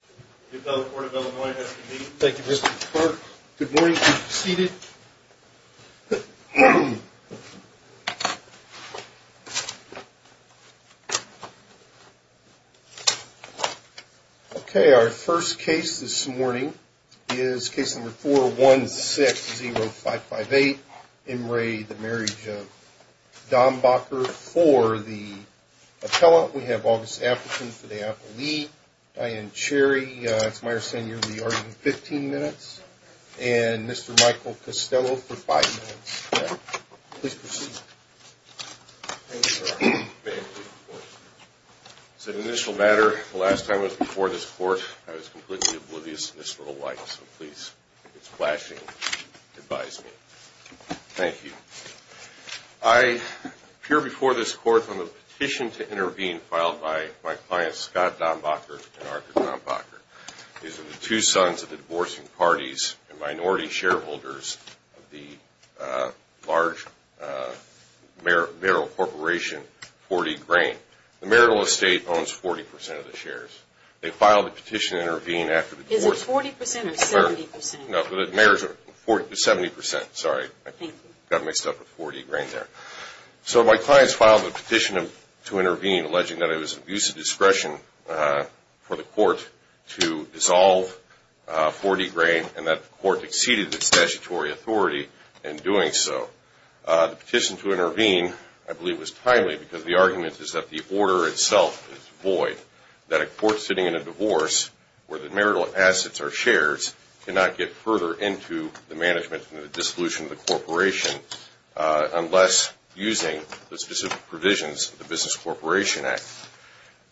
for the Appellant. We have August Appleton for the Appellee, Diane Cherry for the Appellant, and Mr. Michael Costello for five minutes. Please proceed. Thank you, Your Honor. It's an initial matter. The last time I was before this court, I was completely oblivious to this little light, so please, if it's flashing, advise me. Thank you. I appear before this court on the petition to intervene filed by my clients Scott Dambacher and Arthur Dambacher. These are the two sons of the divorcing parties and minority shareholders of the large Merrill Corporation, 40 Grain. The Merrill Estate owns 40% of the shares. They filed a petition to intervene after the divorce. Is it 40% or 70%? No, the Merrill is 70%. Sorry, I got mixed up with 40 Grain there. So my clients filed a petition to intervene alleging that it was an abuse of discretion for the court to dissolve 40 Grain and that the court exceeded its statutory authority in doing so. The petition to intervene, I believe, was timely because the argument is that the order itself is void, that a court sitting in a divorce where the Merrill assets are shares cannot get further into the management and the dissolution of the corporation unless using the specific provisions of the Business Corporation Act.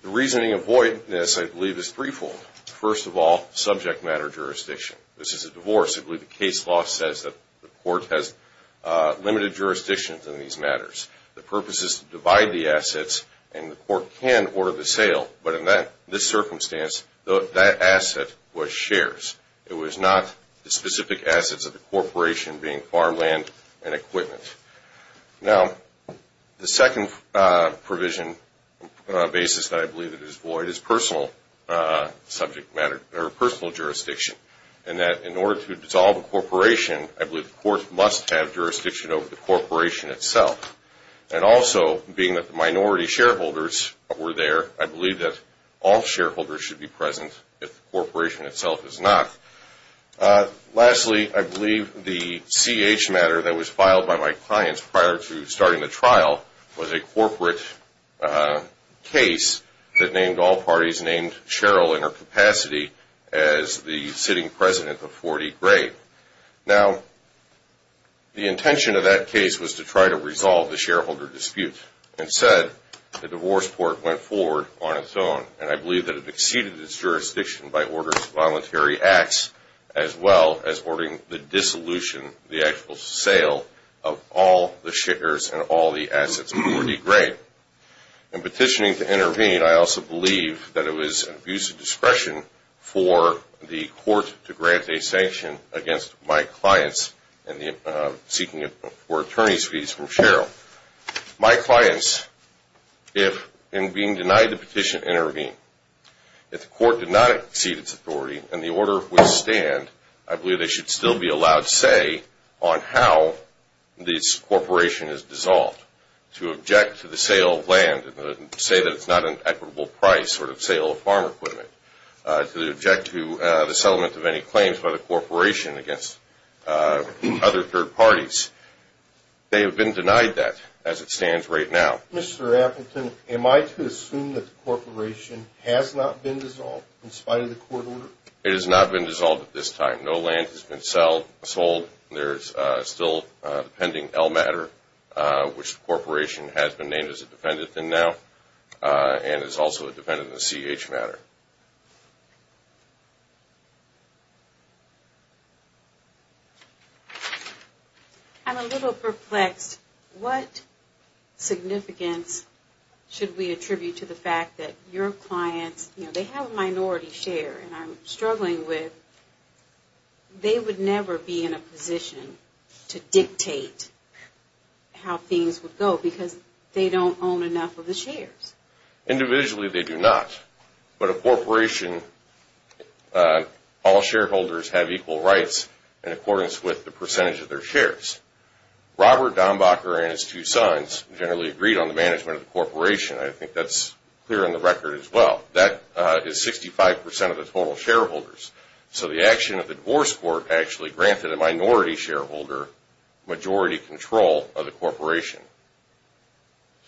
The reasoning of voidness, I believe, is threefold. First of all, subject matter jurisdiction. This is a divorce. I believe the case law says that the court has limited jurisdiction in these matters. The purpose is to divide the assets and the court can order the sale. But in this circumstance, that asset was shares. It was not the specific assets of the corporation being farmland and equipment. Now, the second provision basis that I believe is void is personal jurisdiction. And that in order to dissolve a corporation, I believe the court must have jurisdiction over the corporation itself. And also, being that the minority shareholders were there, I believe that all shareholders should be present if the corporation itself is not. Lastly, I believe the CH matter that was filed by my clients prior to starting the trial was a corporate case that named all parties named Cheryl in her capacity as the sitting president of 40 Great. Now, the intention of that case was to try to resolve the shareholder dispute. Instead, the divorce court went forward on its own. And I believe that it exceeded its jurisdiction by order of voluntary acts as well as ordering the dissolution, the actual sale of all the shares and all the assets of 40 Great. In petitioning to intervene, I also believe that it was an abuse of discretion for the court to grant a sanction against my clients in seeking for attorney's fees from Cheryl. My clients, in being denied the petition to intervene, if the court did not exceed its authority and the order would stand, I believe they should still be allowed say on how this corporation is dissolved. To object to the sale of land and say that it's not an equitable price sort of sale of farm equipment. To object to the settlement of any claims by the corporation against other third parties. They have been denied that as it stands right now. Mr. Appleton, am I to assume that the corporation has not been dissolved in spite of the court order? It has not been dissolved at this time. No land has been sold. There's still pending L matter, which the corporation has been named as a defendant in now and is also a defendant in the CH matter. I'm a little perplexed. What significance should we attribute to the fact that your clients, you know, they have a minority share and are struggling with. They would never be in a position to dictate how things would go because they don't own enough of the shares. Individually, they do not. But a corporation, all shareholders have equal rights in accordance with the percentage of their shares. Robert Dombacher and his two sons generally agreed on the management of the corporation. I think that's clear in the record as well. That is 65% of the total shareholders. So the action of the divorce court actually granted a minority shareholder majority control of the corporation.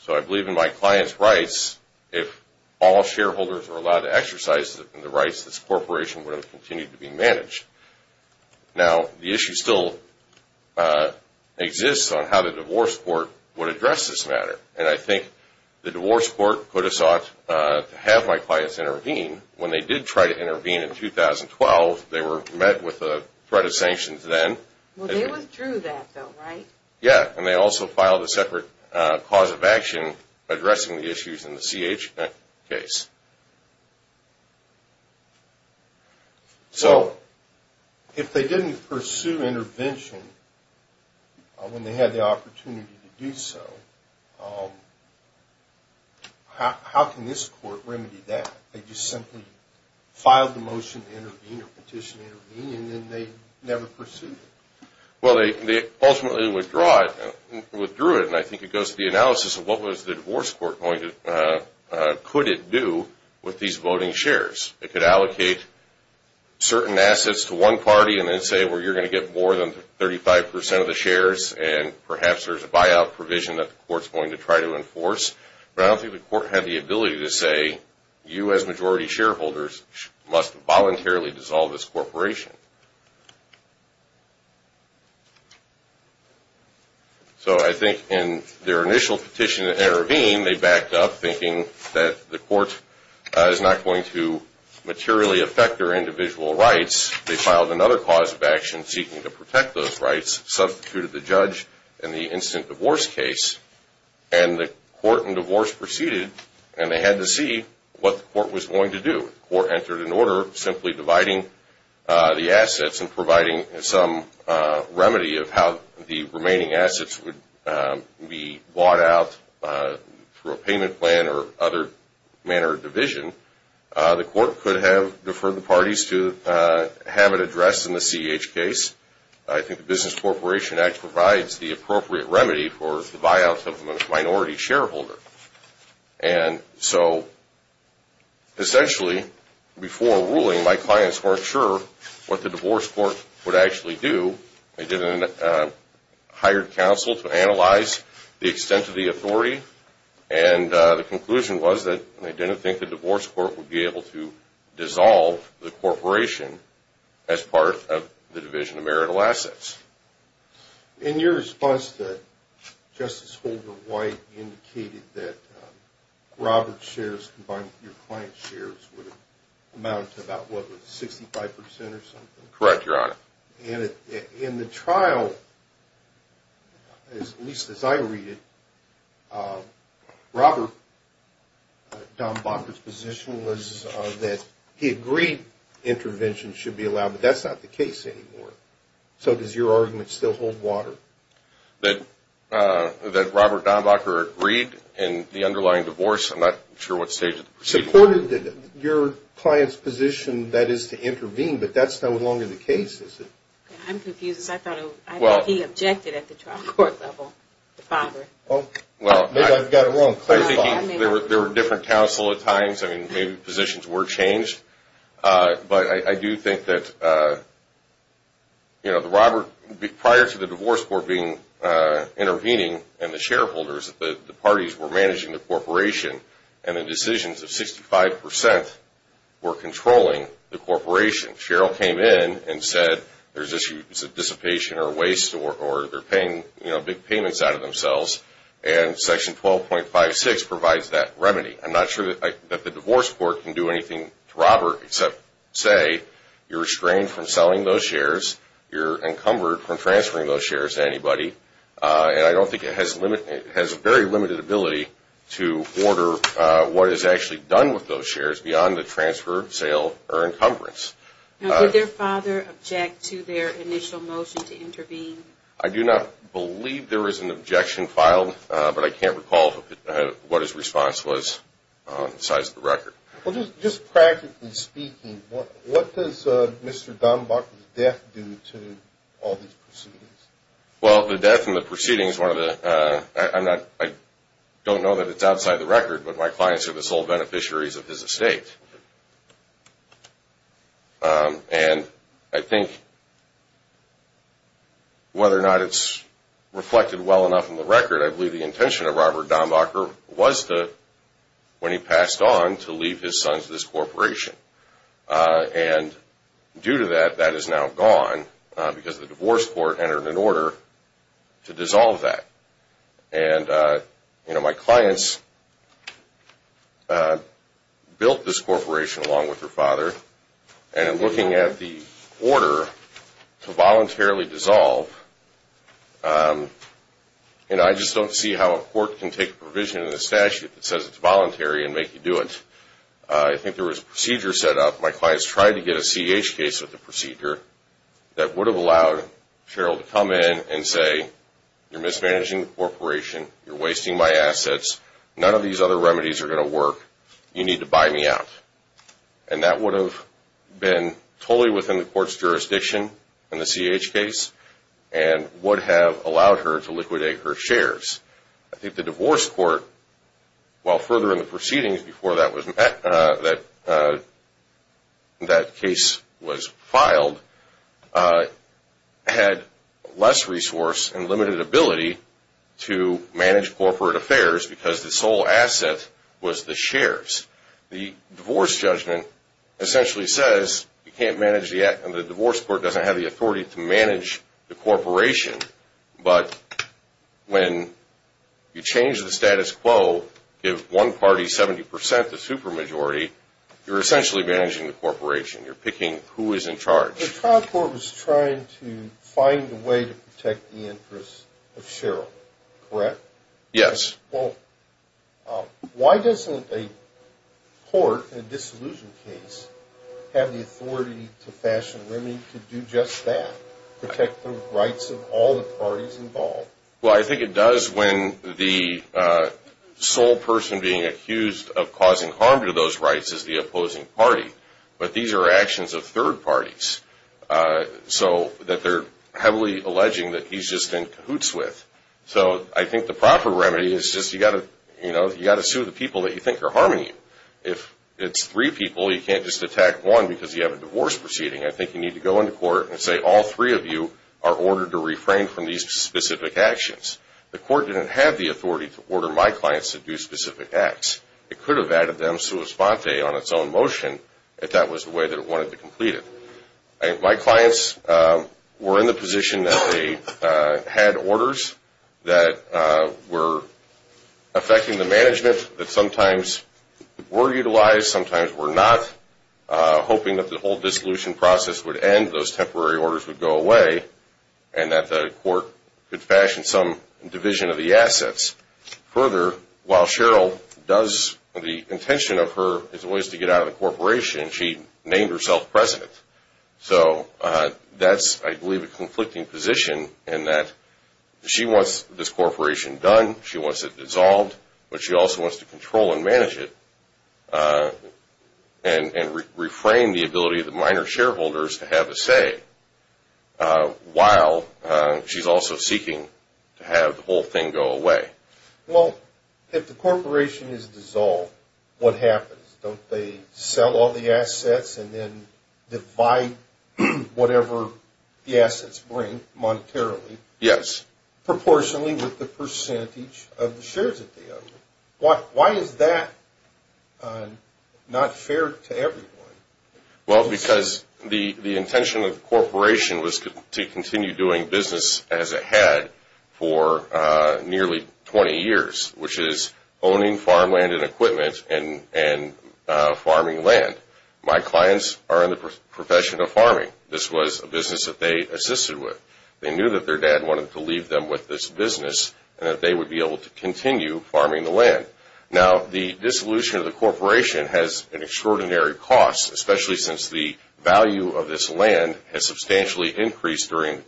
So I believe in my client's rights, if all shareholders were allowed to exercise the rights, this corporation would have continued to be managed. Now, the issue still exists on how the divorce court would address this matter. And I think the divorce court could have sought to have my clients intervene. When they did try to intervene in 2012, they were met with a threat of sanctions then. Well, they withdrew that though, right? Yeah. And they also filed a separate cause of action addressing the issues in the CH case. So if they didn't pursue intervention when they had the opportunity to do so, how can this court remedy that? They just simply filed the motion to intervene or petition to intervene and then they never pursued it. Well, they ultimately withdrew it. And I think it goes to the analysis of what was the divorce court going to, could it do? With these voting shares, it could allocate certain assets to one party and then say, well, you're going to get more than 35% of the shares and perhaps there's a buyout provision that the court's going to try to enforce. But I don't think the court had the ability to say, you as majority shareholders must voluntarily dissolve this corporation. So I think in their initial petition to intervene, they backed up thinking that the court is not going to materially affect their individual rights. They filed another cause of action seeking to protect those rights, substituted the judge in the instant divorce case. And the court in divorce proceeded and they had to see what the court was going to do. I think the business corporation act provides the appropriate remedy for the buyouts of a minority shareholder. And so essentially, before ruling, my clients weren't sure what the divorce court would actually do. They didn't hire counsel to analyze the extent of the authority. And the conclusion was that they didn't think the divorce court would be able to dissolve the corporation as part of the division of marital assets. In your response to Justice Holder White, you indicated that Robert's shares combined with your client's shares would amount to about, what, 65% or something? Correct, Your Honor. In the trial, at least as I read it, Robert, Don Bonner's position was that he agreed intervention should be allowed, but that's not the case anymore. So does your argument still hold water? That Robert Donbacher agreed in the underlying divorce, I'm not sure what stage it is. Supported your client's position, that is, to intervene, but that's no longer the case, is it? I'm confused. I thought he objected at the trial court level, the father. Maybe I've got it wrong. There were different counsel at times. Maybe positions were changed. But I do think that prior to the divorce court intervening and the shareholders, the parties were managing the corporation, and the decisions of 65% were controlling the corporation. Cheryl came in and said there's a dissipation or waste or they're paying big payments out of themselves. And section 12.56 provides that remedy. I'm not sure that the divorce court can do anything to Robert except say you're restrained from selling those shares, you're encumbered from transferring those shares to anybody, and I don't think it has a very limited ability to order what is actually done with those shares beyond the transfer, sale, or encumbrance. Now, did their father object to their initial motion to intervene? I do not believe there was an objection filed, but I can't recall what his response was besides the record. Well, just practically speaking, what does Mr. Dombach's death do to all these proceedings? Well, the death and the proceedings, I don't know that it's outside the record, but my clients are the sole beneficiaries of his estate. And I think whether or not it's reflected well enough in the record, I believe the intention of Robert Dombacher was to, when he passed on, to leave his son to this corporation. And due to that, that is now gone because the divorce court entered an order to dissolve that. And I'm looking at the order to voluntarily dissolve, and I just don't see how a court can take a provision in the statute that says it's voluntary and make you do it. I think there was a procedure set up, my clients tried to get a CH case with the procedure, that would have allowed Cheryl to come in and say, you're mismanaging the corporation, you're wasting my assets, none of these other remedies are going to work, you need to buy me out. And that would have been totally within the court's jurisdiction in the CH case and would have allowed her to liquidate her shares. I think the divorce court, while further in the proceedings before that case was filed, had less resource and limited ability to manage corporate affairs because the sole asset was the shares. The divorce judgment essentially says you can't manage the act, and the divorce court doesn't have the authority to manage the corporation. But when you change the status quo, give one party 70% the super majority, you're essentially managing the corporation, you're picking who is in charge. The trial court was trying to find a way to protect the interests of Cheryl, correct? Yes. Well, why doesn't a court in a disillusioned case have the authority to fashion a remedy to do just that, protect the rights of all the parties involved? Well, I think it does when the sole person being accused of causing harm to those rights is the opposing party. But these are actions of third parties, so that they're heavily alleging that he's just in cahoots with. So I think the proper remedy is just you've got to sue the people that you think are harming you. If it's three people, you can't just attack one because you have a divorce proceeding. I think you need to go into court and say all three of you are ordered to refrain from these specific actions. The court didn't have the authority to order my clients to do specific acts. It could have added them sua sponte on its own motion if that was the way that it wanted to complete it. My clients were in the position that they had orders that were affecting the management that sometimes were utilized, sometimes were not, hoping that the whole dissolution process would end, those temporary orders would go away, and that the court could fashion some division of the assets. Further, while Cheryl does, the intention of her is always to get out of the corporation, she named herself president. So that's, I believe, a conflicting position in that she wants this corporation done, she wants it dissolved, but she also wants to control and manage it and reframe the ability of the minor shareholders to have a say while she's also seeking to have the whole thing go away. Well, if the corporation is dissolved, what happens? Don't they sell all the assets and then divide whatever the assets bring monetarily? Yes. Proportionally with the percentage of the shares that they own. Why is that not fair to everyone? Well, because the intention of the corporation was to continue doing business as it had for nearly 20 years, which is owning farmland and equipment and farming land. My clients are in the profession of farming. This was a business that they assisted with. They knew that their dad wanted to leave them with this business and that they would be able to continue farming the land. Now, the dissolution of the corporation has an extraordinary cost, especially since the value of this land has substantially increased during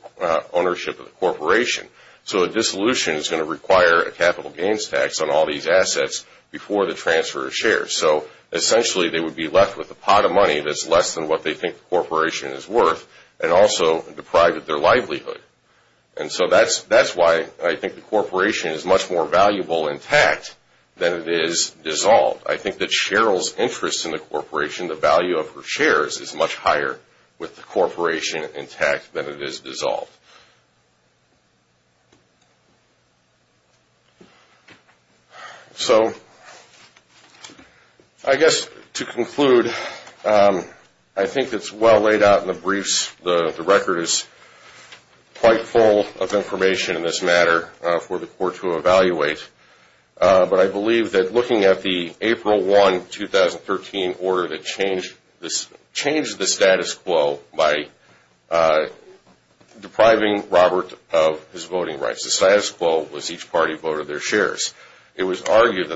ownership of the corporation. So a dissolution is going to require a capital gains tax on all these assets before the transfer of shares. So essentially they would be left with a pot of money that's less than what they think the corporation is worth and also deprived of their livelihood. And so that's why I think the corporation is much more valuable intact than it is dissolved. I think that Cheryl's interest in the corporation, the value of her shares, is much higher with the corporation intact than it is dissolved. So I guess to conclude, I think it's well laid out in the briefs. The record is quite full of information in this matter for the court to evaluate. But I believe that looking at the April 1, 2013, order that changed the status quo by depriving Robert of his voting rights. The status quo was each party voted their shares. It was argued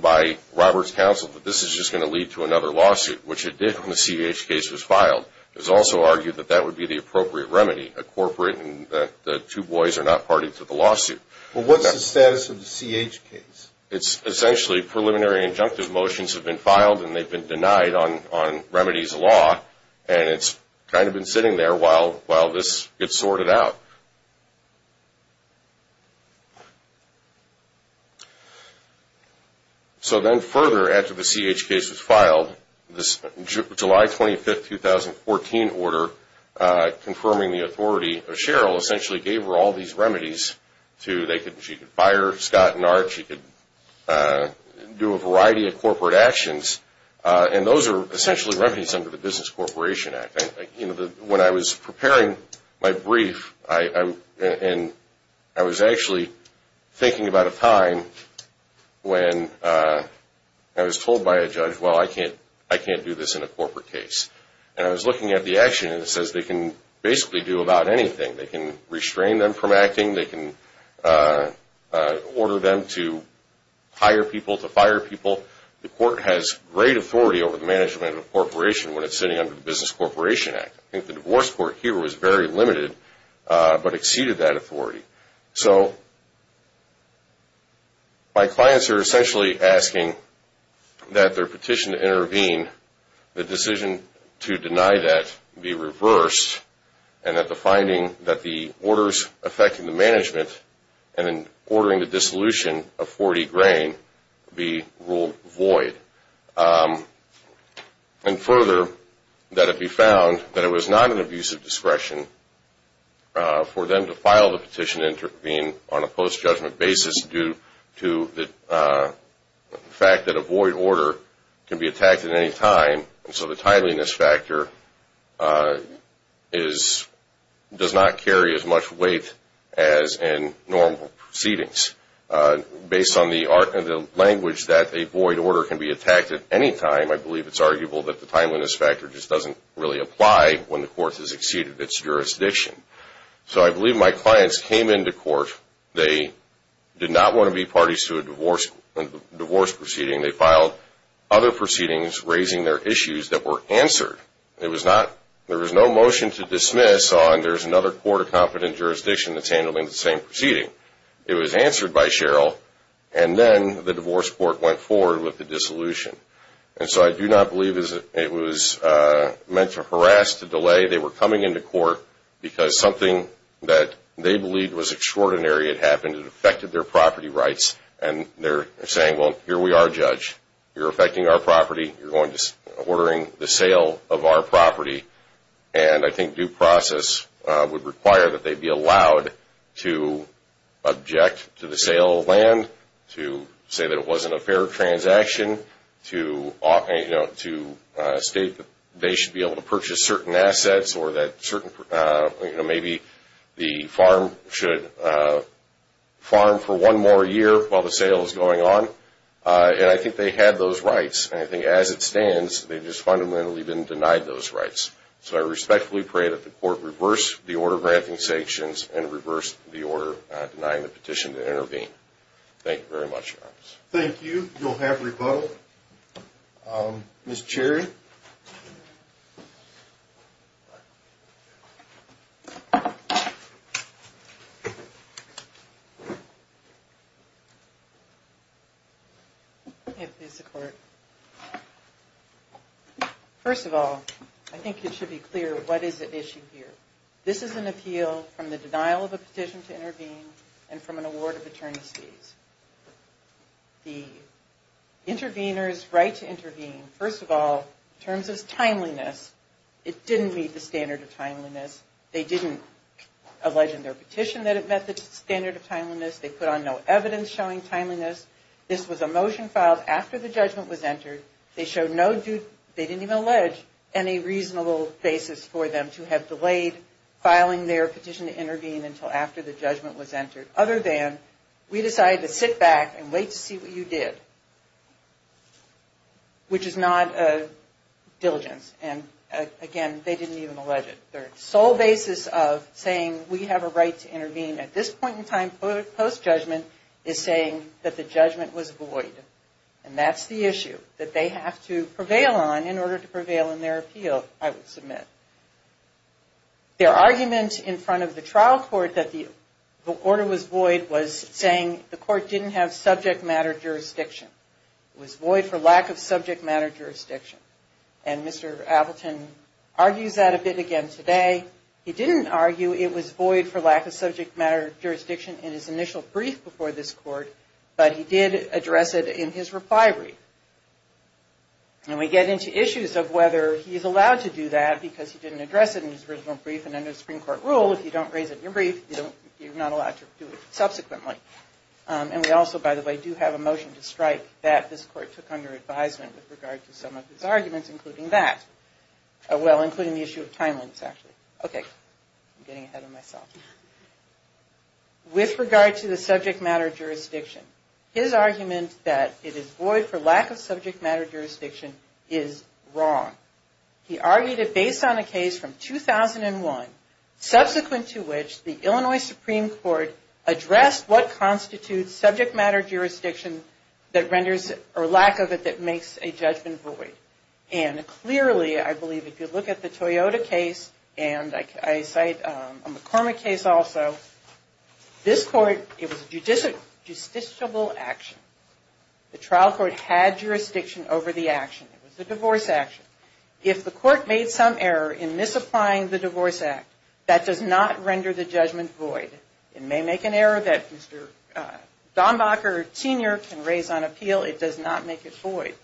by Robert's counsel that this is just going to lead to another lawsuit, which it did when the CEH case was filed. It was also argued that that would be the appropriate remedy, a corporate and that the two boys are not party to the lawsuit. Well, what's the status of the CEH case? It's essentially preliminary injunctive motions have been filed and they've been denied on remedies law and it's kind of been sitting there while this gets sorted out. So then further, after the CEH case was filed, this July 25, 2014 order confirming the authority of Cheryl essentially gave her all these remedies. She could fire Scott and Art, she could do a variety of corporate actions and those are essentially remedies under the Business Corporation Act. When I was preparing my brief, I was actually thinking about a time when I was told by a judge, well, I can't do this in a corporate case. And I was looking at the action and it says they can basically do about anything. They can restrain them from acting, they can order them to hire people, to fire people. The court has great authority over the management of the corporation when it's sitting under the Business Corporation Act. I think the divorce court here was very limited, but exceeded that authority. So my clients are essentially asking that their petition to intervene, the decision to deny that, be reversed and that the finding that the orders affecting the management and ordering the dissolution of 40 grain be ruled void. And further, that it be found that it was not an abuse of discretion for them to file the petition to intervene on a post-judgment basis due to the fact that a void order can be attacked at any time and so the tideliness factor does not carry as much weight as in normal proceedings. Based on the language that a void order can be attacked at any time, I believe it's arguable that the timeliness factor just doesn't really apply when the court has exceeded its jurisdiction. So I believe my clients came into court. They did not want to be parties to a divorce proceeding. They filed other proceedings raising their issues that were answered. There was no motion to dismiss on there's another court of competent jurisdiction that's handling the same proceeding. It was answered by Cheryl and then the divorce court went forward with the dissolution. And so I do not believe it was meant to harass, to delay. They were coming into court because something that they believed was extraordinary had happened. It affected their property rights and they're saying, well, here we are, Judge. You're affecting our property. You're ordering the sale of our property. And I think due process would require that they be allowed to object to the sale of land, to say that it wasn't a fair transaction, to state that they should be able to purchase certain assets or that maybe the farm should farm for one more year while the sale is going on. And I think they had those rights. And I think as it stands, they've just fundamentally been denied those rights. So I respectfully pray that the court reverse the order granting sanctions and reverse the order denying the petition to intervene. Thank you very much, Your Honor. Thank you. You'll have rebuttal. First of all, I think it should be clear what is at issue here. This is an appeal from the denial of a petition to intervene and from an award of attorney's fees. The intervener's right to intervene, first of all, in terms of timeliness, it didn't meet the standard of timeliness. They didn't allege in their petition that it met the standard of timeliness. They put on no evidence showing timeliness. This was a motion filed after the judgment was entered. They didn't even allege any reasonable basis for them to have delayed filing their petition to intervene until after the judgment was entered, other than we decided to sit back and wait to see what you did, which is not a diligence. And again, they didn't even allege it. Their sole basis of saying we have a right to intervene at this point in time post-judgment is saying that the judgment was void. And that's the issue that they have to prevail on in order to prevail in their appeal, I would submit. Their argument in front of the trial court that the order was void was saying the court didn't have subject matter jurisdiction. It was void for lack of subject matter jurisdiction. And Mr. Appleton argues that a bit again today. He didn't argue it was void for lack of subject matter jurisdiction in his initial brief before this court, but he did address it in his reply brief. And we get into issues of whether he's allowed to do that because he didn't address it in his original brief. And under the Supreme Court rule, if you don't raise it in your brief, you're not allowed to do it subsequently. And we also, by the way, do have a motion to strike that this court took under advisement with regard to some of his arguments, including that. Well, including the issue of timelines, actually. Okay, I'm getting ahead of myself. With regard to the subject matter jurisdiction, his argument that it is void for lack of subject matter jurisdiction is wrong. He argued it based on a case from 2001, subsequent to which the Illinois Supreme Court addressed what constitutes subject matter jurisdiction that renders or lack of it that makes a judgment void. And clearly, I believe if you look at the Toyota case, and I cite a McCormick case also, this court, it was a justiciable action. The trial court had jurisdiction over the action. It was a divorce action. If the court made some error in misapplying the Divorce Act, that does not render the judgment void. It may make an error that Mr. Dombacher Sr. can raise on appeal. It does not make it void.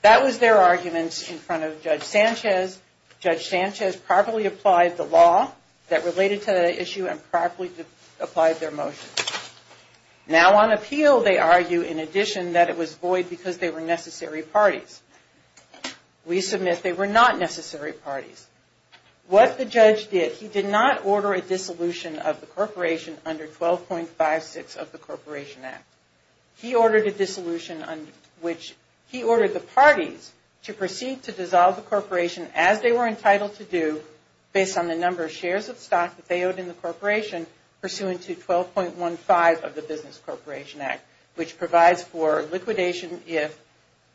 That was their arguments in front of Judge Sanchez. Judge Sanchez properly applied the law that related to the issue and properly applied their motion. Now on appeal, they argue, in addition, that it was void because they were necessary parties. We submit they were not necessary parties. What the judge did, he did not order a dissolution of the corporation under 12.56 of the Corporation Act. He ordered a dissolution, which he ordered the parties to proceed to dissolve the corporation as they were entitled to do based on the number of shares of stock that they owed in the corporation pursuant to 12.15 of the Business Corporation Act, which provides for liquidation if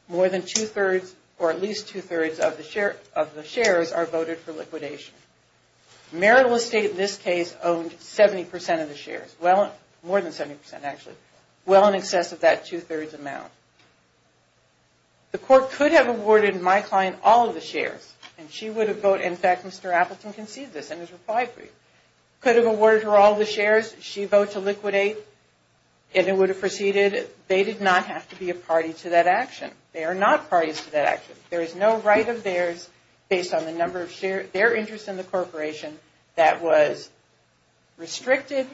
more than two-thirds or at least two-thirds of the shares are voted for liquidation. Marital estate in this case owned 70% of the shares, well, more than 70% actually, well in excess of that two-thirds amount. The court could have awarded my client all of the shares and she would have voted, in fact, Mr. Appleton conceded this in his reply brief, could have awarded her all of the shares. She voted to liquidate and it would have proceeded. They did not have to be a party to that action. They are not parties to that action. There is no right of theirs based on the number of shares, their interest in the corporation that was restricted,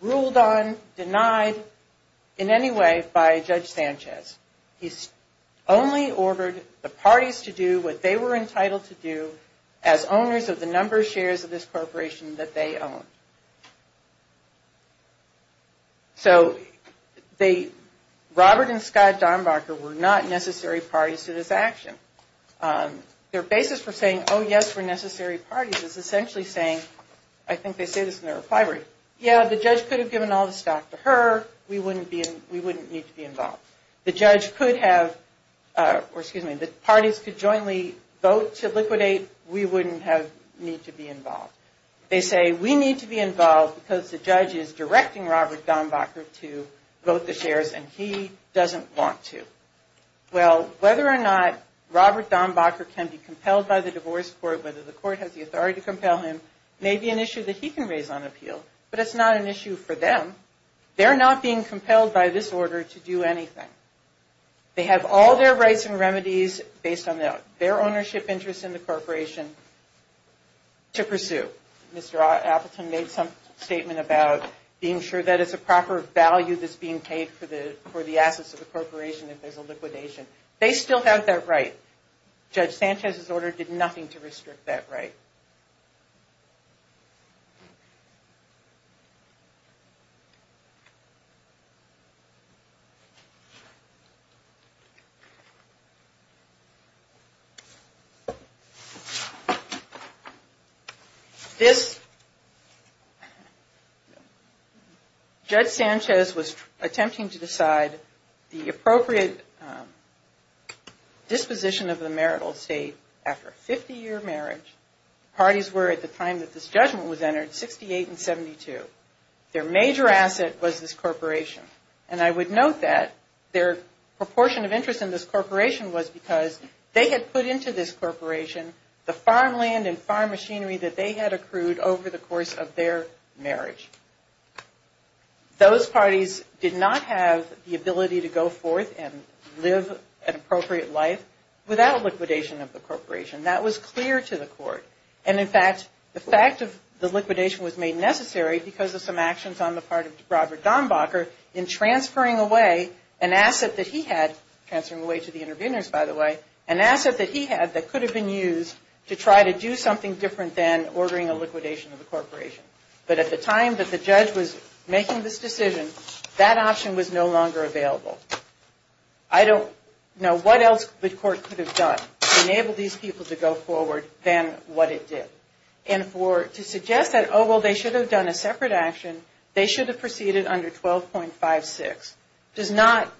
ruled on, denied in any way by Judge Sanchez. He only ordered the parties to do what they were entitled to do as owners of the number of shares of this corporation that they owned. So Robert and Scott Dombacher were not necessary parties to this action. Their basis for saying, oh yes, we're necessary parties is essentially saying, I think they say this in their reply brief, yeah, the judge could have given all the stock to her, we wouldn't need to be involved. The judge could have, or excuse me, the parties could jointly vote to liquidate, we wouldn't need to be involved. They say, we need to be involved because the judge is directing Robert Dombacher to vote the shares and he doesn't want to. Well, whether or not Robert Dombacher can be compelled by the divorce court, whether the court has the authority to compel him, may be an issue that he can raise on appeal, but it's not an issue for them. They're not being compelled by this order to do anything. They have all their rights and remedies based on their ownership interest in the corporation to pursue. Mr. Appleton made some statement about being sure that it's a proper value that's being paid for the assets of the corporation if there's a liquidation. They still have that right. Judge Sanchez's order did nothing to restrict that right. This, Judge Sanchez was attempting to decide the appropriate disposition of the marital estate after a 50-year marriage. The parties were, at the time that this judgment was entered, 68 and 72. Their major asset was this corporation. And I would note that their proportion of interest in this corporation was because they had put into this the property that they had accrued over the course of their marriage. Those parties did not have the ability to go forth and live an appropriate life without liquidation of the corporation. That was clear to the court. And, in fact, the fact of the liquidation was made necessary because of some actions on the part of Robert Dombacher in transferring away an asset that he had, transferring away to the interveners, by the way, an asset that he had that could have been used to try to do something different than ordering a liquidation of the corporation. But at the time that the judge was making this decision, that option was no longer available. I don't know what else the court could have done to enable these people to go forward than what it did. And to suggest that, oh, well, they should have done a separate action, they should have proceeded under 12.56, does not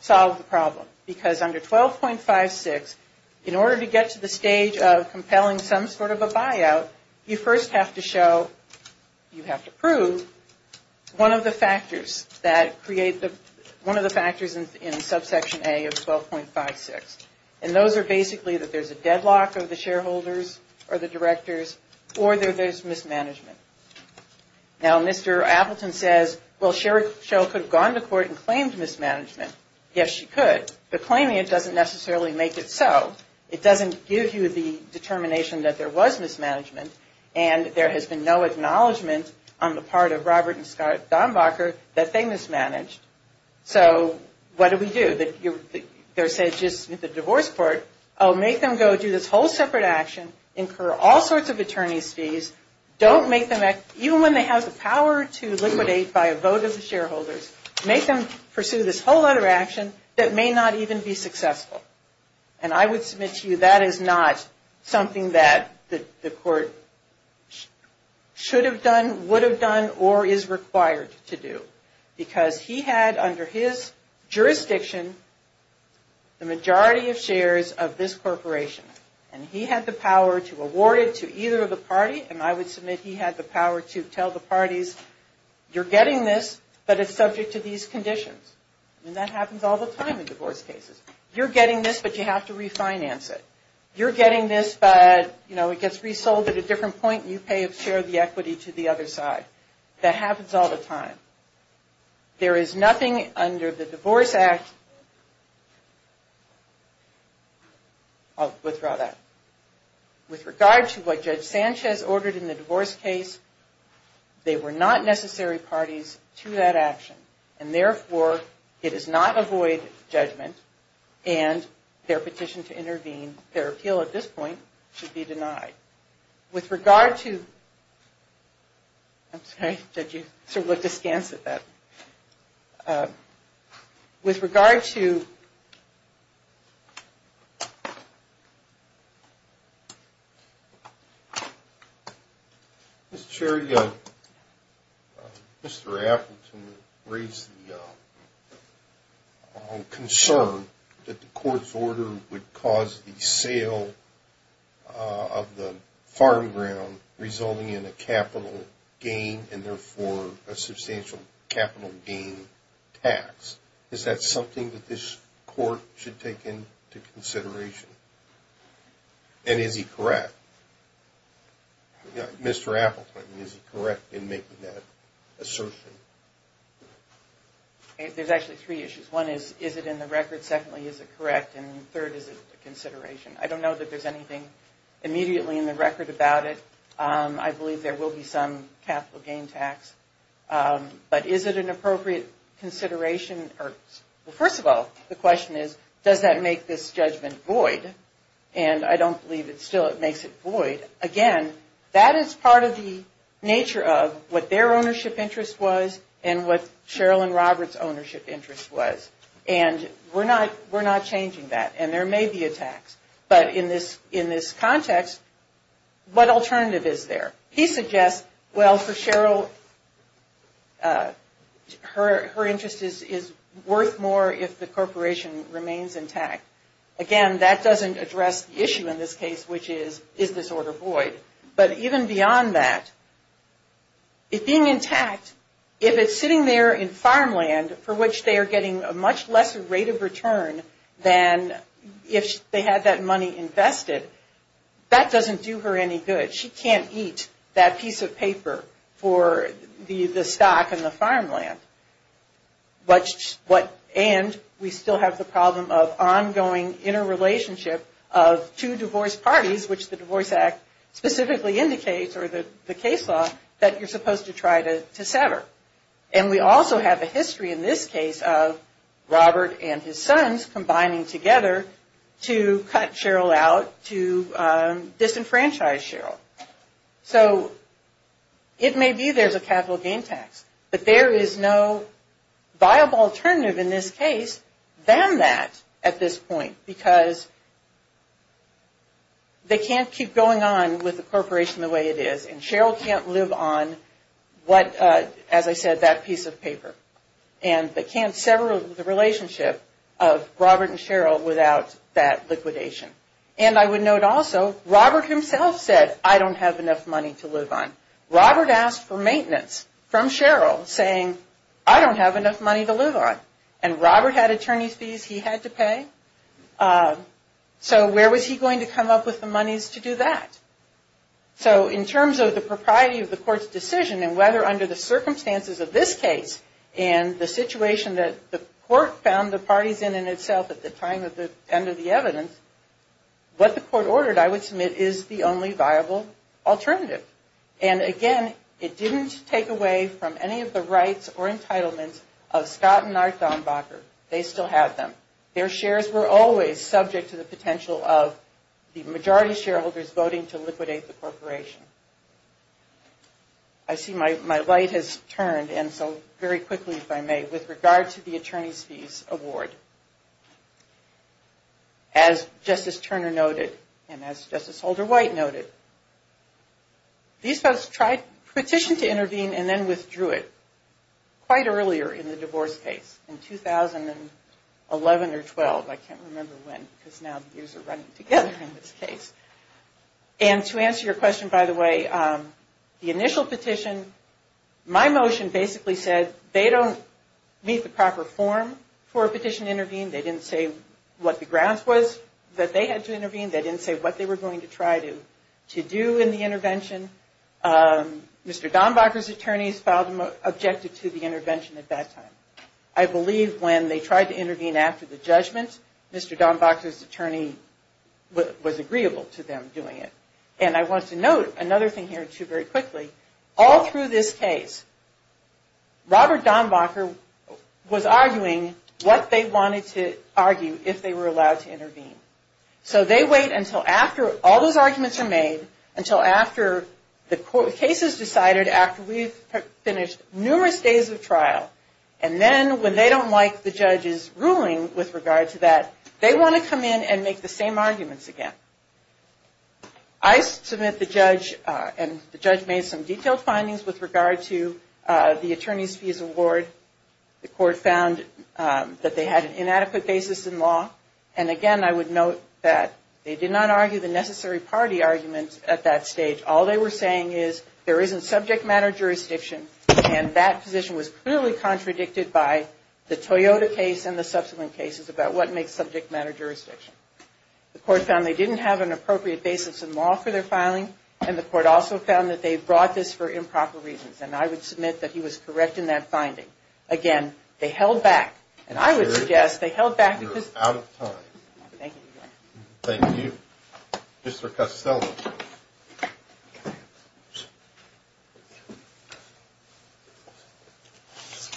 solve the problem. Because under 12.56, in order to get to the stage of compelling some sort of a buyout, you first have to show, you have to prove one of the factors that create the, one of the factors in subsection A of 12.56. And those are basically that there's a deadlock of the shareholders or the directors or there's mismanagement. Now, Mr. Appleton says, well, Cheryl could have gone to court and claimed mismanagement. Yes, she could. But claiming it doesn't necessarily make it so. It doesn't give you the determination that there was mismanagement. And there has been no acknowledgment on the part of Robert and Scott Dombacher that they mismanaged. So what do we do? There's just the divorce court, oh, make them go do this whole separate action, incur all sorts of attorney's fees, don't make them, even when they have the power to liquidate by a vote of the shareholders, make them pursue this whole other action that may not even be successful. And I would submit to you that is not something that the court should have done, would have done, or is required to do. Because he had under his jurisdiction the majority of shares of this corporation. And he had the power to award it to either of the parties. And I would submit he had the power to tell the parties, you're getting this, but it's subject to these conditions. And that happens all the time in divorce cases. You're getting this, but you have to refinance it. You're getting this, but, you know, it gets resold at a different point and you pay a share of the equity to the other side. That happens all the time. There is nothing under the Divorce Act, I'll withdraw that. With regard to what Judge Sanchez ordered in the divorce case, they were not necessary parties to that action. And therefore, it does not avoid judgment and their petition to intervene, their appeal at this point, should be denied. With regard to... I'm sorry, Judge, you sort of looked askance at that. With regard to... Mr. Cherry, Mr. Appleton raised the concern that the court's order would cause the sale of the farm ground resulting in a capital gain and therefore a substantial capital gain tax. Is that something that this court should take into consideration? And is he correct? Mr. Appleton, is he correct in making that assertion? There's actually three issues. One is, is it in the record? Secondly, is it correct? And third, is it a consideration? I don't know that there's anything immediately in the record about it. I believe there will be some capital gain tax. But is it an appropriate consideration? Well, first of all, the question is, does that make this judgment void? And I don't believe it still makes it void. Again, that is part of the nature of what their ownership interest was and what Cheryl and Robert's ownership interest was. And we're not changing that. And there may be a tax. But in this context, what alternative is there? He suggests, well, for Cheryl, her interest is worth more if the corporation remains intact. Again, that doesn't address the issue in this case, which is, is this order void? But even beyond that, it being intact, if it's sitting there in farmland for which they are getting a much lesser rate of return than if they had that money invested, that doesn't do her any good. She can't eat that piece of paper for the stock in the farmland. And we still have the problem of ongoing interrelationship of two divorce parties, which the Divorce Act specifically indicates, or the case law, that you're supposed to try to sever. And we also have a history in this case of Robert and his sons combining together to cut Cheryl out, to disenfranchise Cheryl. So it may be there's a capital gain tax. But there is no viable alternative in this case than that at this point, because they can't keep going on with the corporation the way it is. And Cheryl can't live on what, as I said, that piece of paper. And they can't sever the relationship of Robert and Cheryl without that liquidation. And I would note also, Robert himself said, I don't have enough money to live on. Robert asked for maintenance from Cheryl, saying, I don't have enough money to live on. And Robert had attorney's fees he had to pay. So where was he going to come up with the monies to do that? So in terms of the propriety of the court's decision and whether under the circumstances of this case and the situation that the court found the parties in in itself at the time of the end of the evidence, what the court ordered, I would submit, is the only viable alternative. And again, it didn't take away from any of the rights or entitlements of Scott and Art Dombacher. They still have them. They still have the right to liquidate the corporation. I see my light has turned, and so very quickly, if I may, with regard to the attorney's fees award. As Justice Turner noted, and as Justice Holder White noted, these folks petitioned to intervene and then withdrew it quite earlier in the divorce case, in 2011 or 12. I can't remember when, because now the years are running together in this case. And to answer your question, by the way, the initial petition, my motion basically said they don't meet the proper form for a petition to intervene. They didn't say what the grounds was that they had to intervene. They didn't say what they were going to try to do in the intervention. Mr. Dombacher's attorneys objected to the intervention at that time. I believe when they tried to intervene after the judgment, Mr. Dombacher's attorney was agreeable to them doing it. And I want to note another thing here, too, very quickly. All through this case, Robert Dombacher was arguing what they wanted to argue if they were allowed to intervene. So they wait until after all those arguments are made, until after the case is decided, after we've finished numerous days of trial. And then when they don't like the judge's ruling with regard to that, they want to come in and make the same arguments again. I submit the judge, and the judge made some detailed findings with regard to the attorney's fees award. The court found that they had an inadequate basis in law. And again, I would note that they did not argue the necessary party arguments at that stage. All they were saying is there isn't subject matter jurisdiction, and that position was clearly contradicted by the Toyota case and the subsequent cases about what makes subject matter jurisdiction. The court found they didn't have an appropriate basis in law for their filing, and the court also found that they brought this for improper reasons. And I would submit that he was correct in that finding. Again, they held back, and I would suggest they held back. Thank you. Mr. Costello.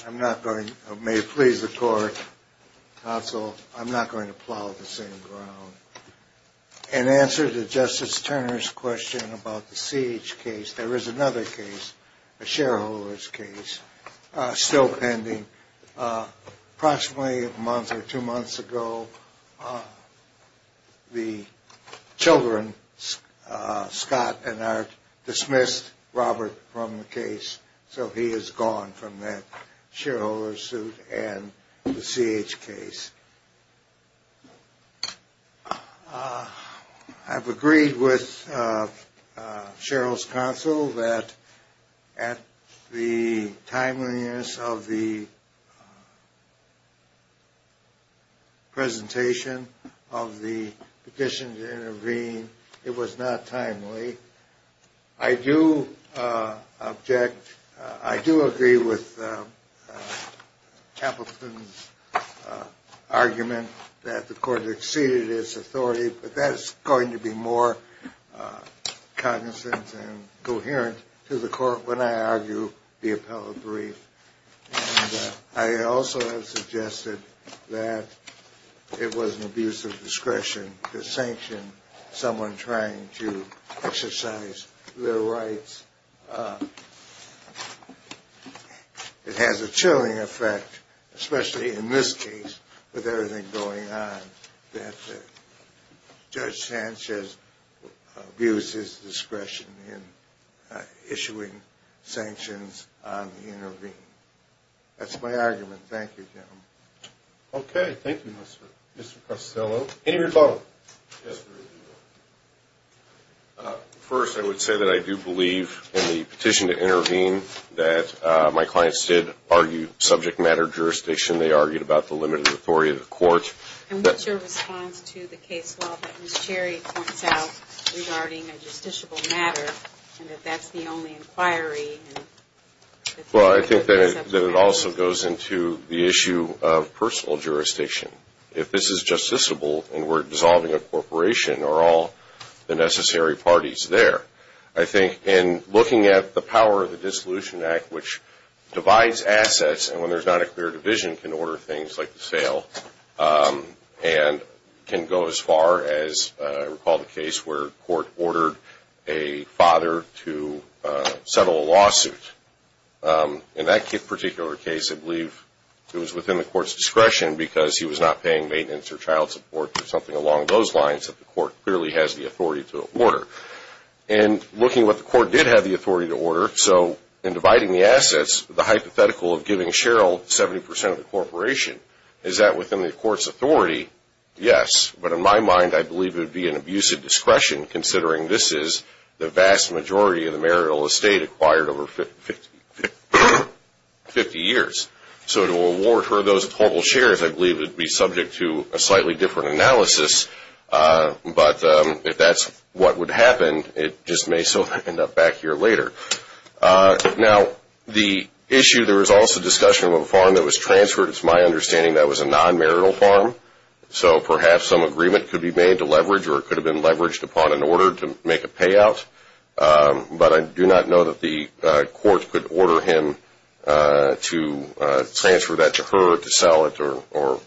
I'm not going to, may it please the court, counsel, I'm not going to plow the same ground. In answer to Justice Turner's question about the Siege case, there is another case, a shareholder's case, still pending. Approximately a month or two months ago, the children, Scott and Art, dismissed Robert from the case, so he is gone from that shareholder's suit and the Siege case. I've agreed with Cheryl's counsel that at the timeliness of the presentation of the petition to intervene, it was not timely. I do object, I do agree with Appleton's argument that the court exceeded its authority, but that is going to be more cognizant and coherent to the court when I argue the appellate brief. And I also have suggested that it was an abuse of discretion to sanction someone who was not on the petition. Someone trying to exercise their rights. It has a chilling effect, especially in this case, with everything going on, that Judge Sanchez abused his discretion in issuing sanctions on the intervene. That's my argument. Thank you, gentlemen. First, I would say that I do believe in the petition to intervene, that my clients did argue subject matter jurisdiction, they argued about the limited authority of the court. And what's your response to the case file that Ms. Cherry points out regarding a justiciable matter, and that that's the only inquiry? Well, I think that it also goes into the issue of personal jurisdiction. If this is justiciable, and we're dissolving a corporation, are all the necessary parties there? I think in looking at the power of the Dissolution Act, which divides assets, and when there's not a clear division, can order things like the sale, and can go as far as, I recall the case where a court ordered a father to settle a lawsuit. In that particular case, I believe it was within the court's discretion, because he was not paying maintenance or child support, or something along those lines, that the court clearly has the authority to order. And looking at what the court did have the authority to order, so in dividing the assets, the hypothetical of giving Cheryl 70% of the corporation, is that within the court's authority? Yes, but in my mind, I believe it would be an abusive discretion, considering this is the vast majority of the marital estate acquired over 50 years. So to award her those total shares, I believe it would be subject to a slightly different analysis, but if that's what would happen, it just may so end up back here later. Now, the issue, there was also discussion of a farm that was transferred. It's my understanding that was a non-marital farm, so perhaps some agreement could be made to leverage, or it could have been leveraged upon an order to make a payout, but I do not know that the court could order him to transfer that to her to sell it, or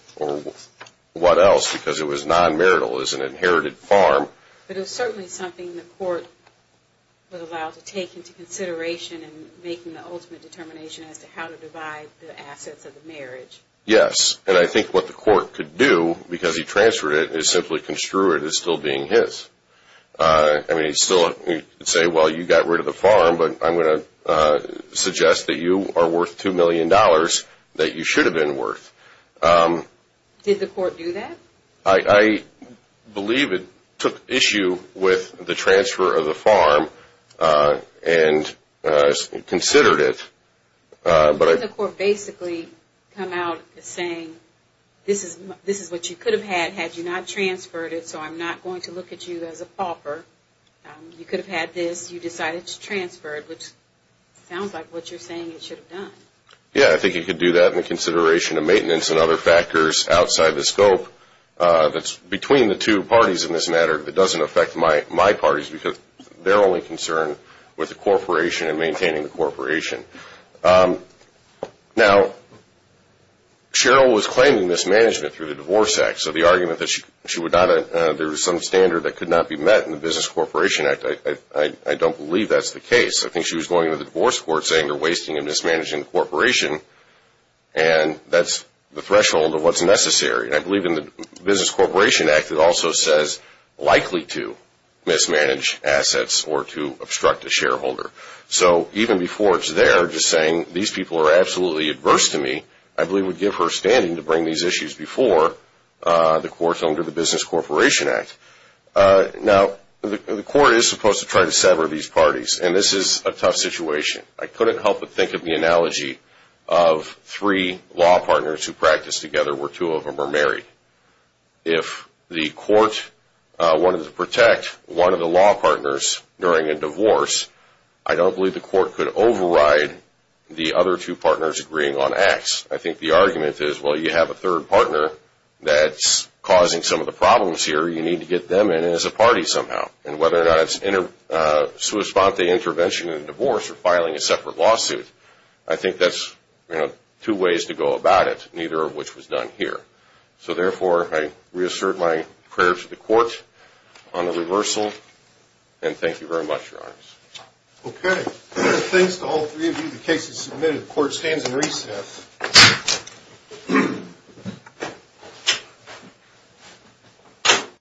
what else, because it was non-marital, it was an inherited farm. But it was certainly something the court was allowed to take into consideration in making the ultimate determination as to how to divide the assets of the marriage. Yes, and I think what the court could do, because he transferred it, is simply construe it as still being his. I mean, he could still say, well, you got rid of the farm, but I'm going to suggest that you are worth $2 million that you should have been worth. Did the court do that? I believe it took issue with the transfer of the farm and considered it. Couldn't the court basically come out saying, this is what you could have had had you not transferred it, so I'm not going to look at you as a pauper. You could have had this, you decided to transfer it, which sounds like what you're saying it should have done. Yeah, I think he could do that in the consideration of maintenance and other factors outside the scope that's between the two parties in this matter that doesn't affect my parties, because they're only concerned with the corporation and maintaining the corporation. Now, Cheryl was claiming mismanagement through the Divorce Act, so the argument that there was some standard that could not be met in the Business Corporation Act, I don't believe that's the case. I think she was going to the divorce court saying they're wasting and mismanaging the corporation, and that's the threshold of what's necessary. I believe in the Business Corporation Act, it also says likely to mismanage assets or to obstruct a shareholder. So even before it's there, just saying these people are absolutely adverse to me, I believe would give her standing to bring these issues before the courts under the Business Corporation Act. Now, the court is supposed to try to sever these parties, and this is a tough situation. I couldn't help but think of the analogy of three law partners who practice together where two of them are married. If the court wanted to protect one of the law partners during a divorce, I don't believe the court could override the other two partners agreeing on acts. I think the argument is, well, you have a third partner that's causing some of the problems here. You need to get them in as a party somehow, and whether or not it's in a sua sponte intervention in a divorce or filing a separate lawsuit, I think that's two ways to go about it, neither of which was done here. So therefore, I reassert my prayer to the court on the reversal, and thank you very much, Your Honors. Okay. Thanks to all three of you, the case is submitted. The court stands in recess.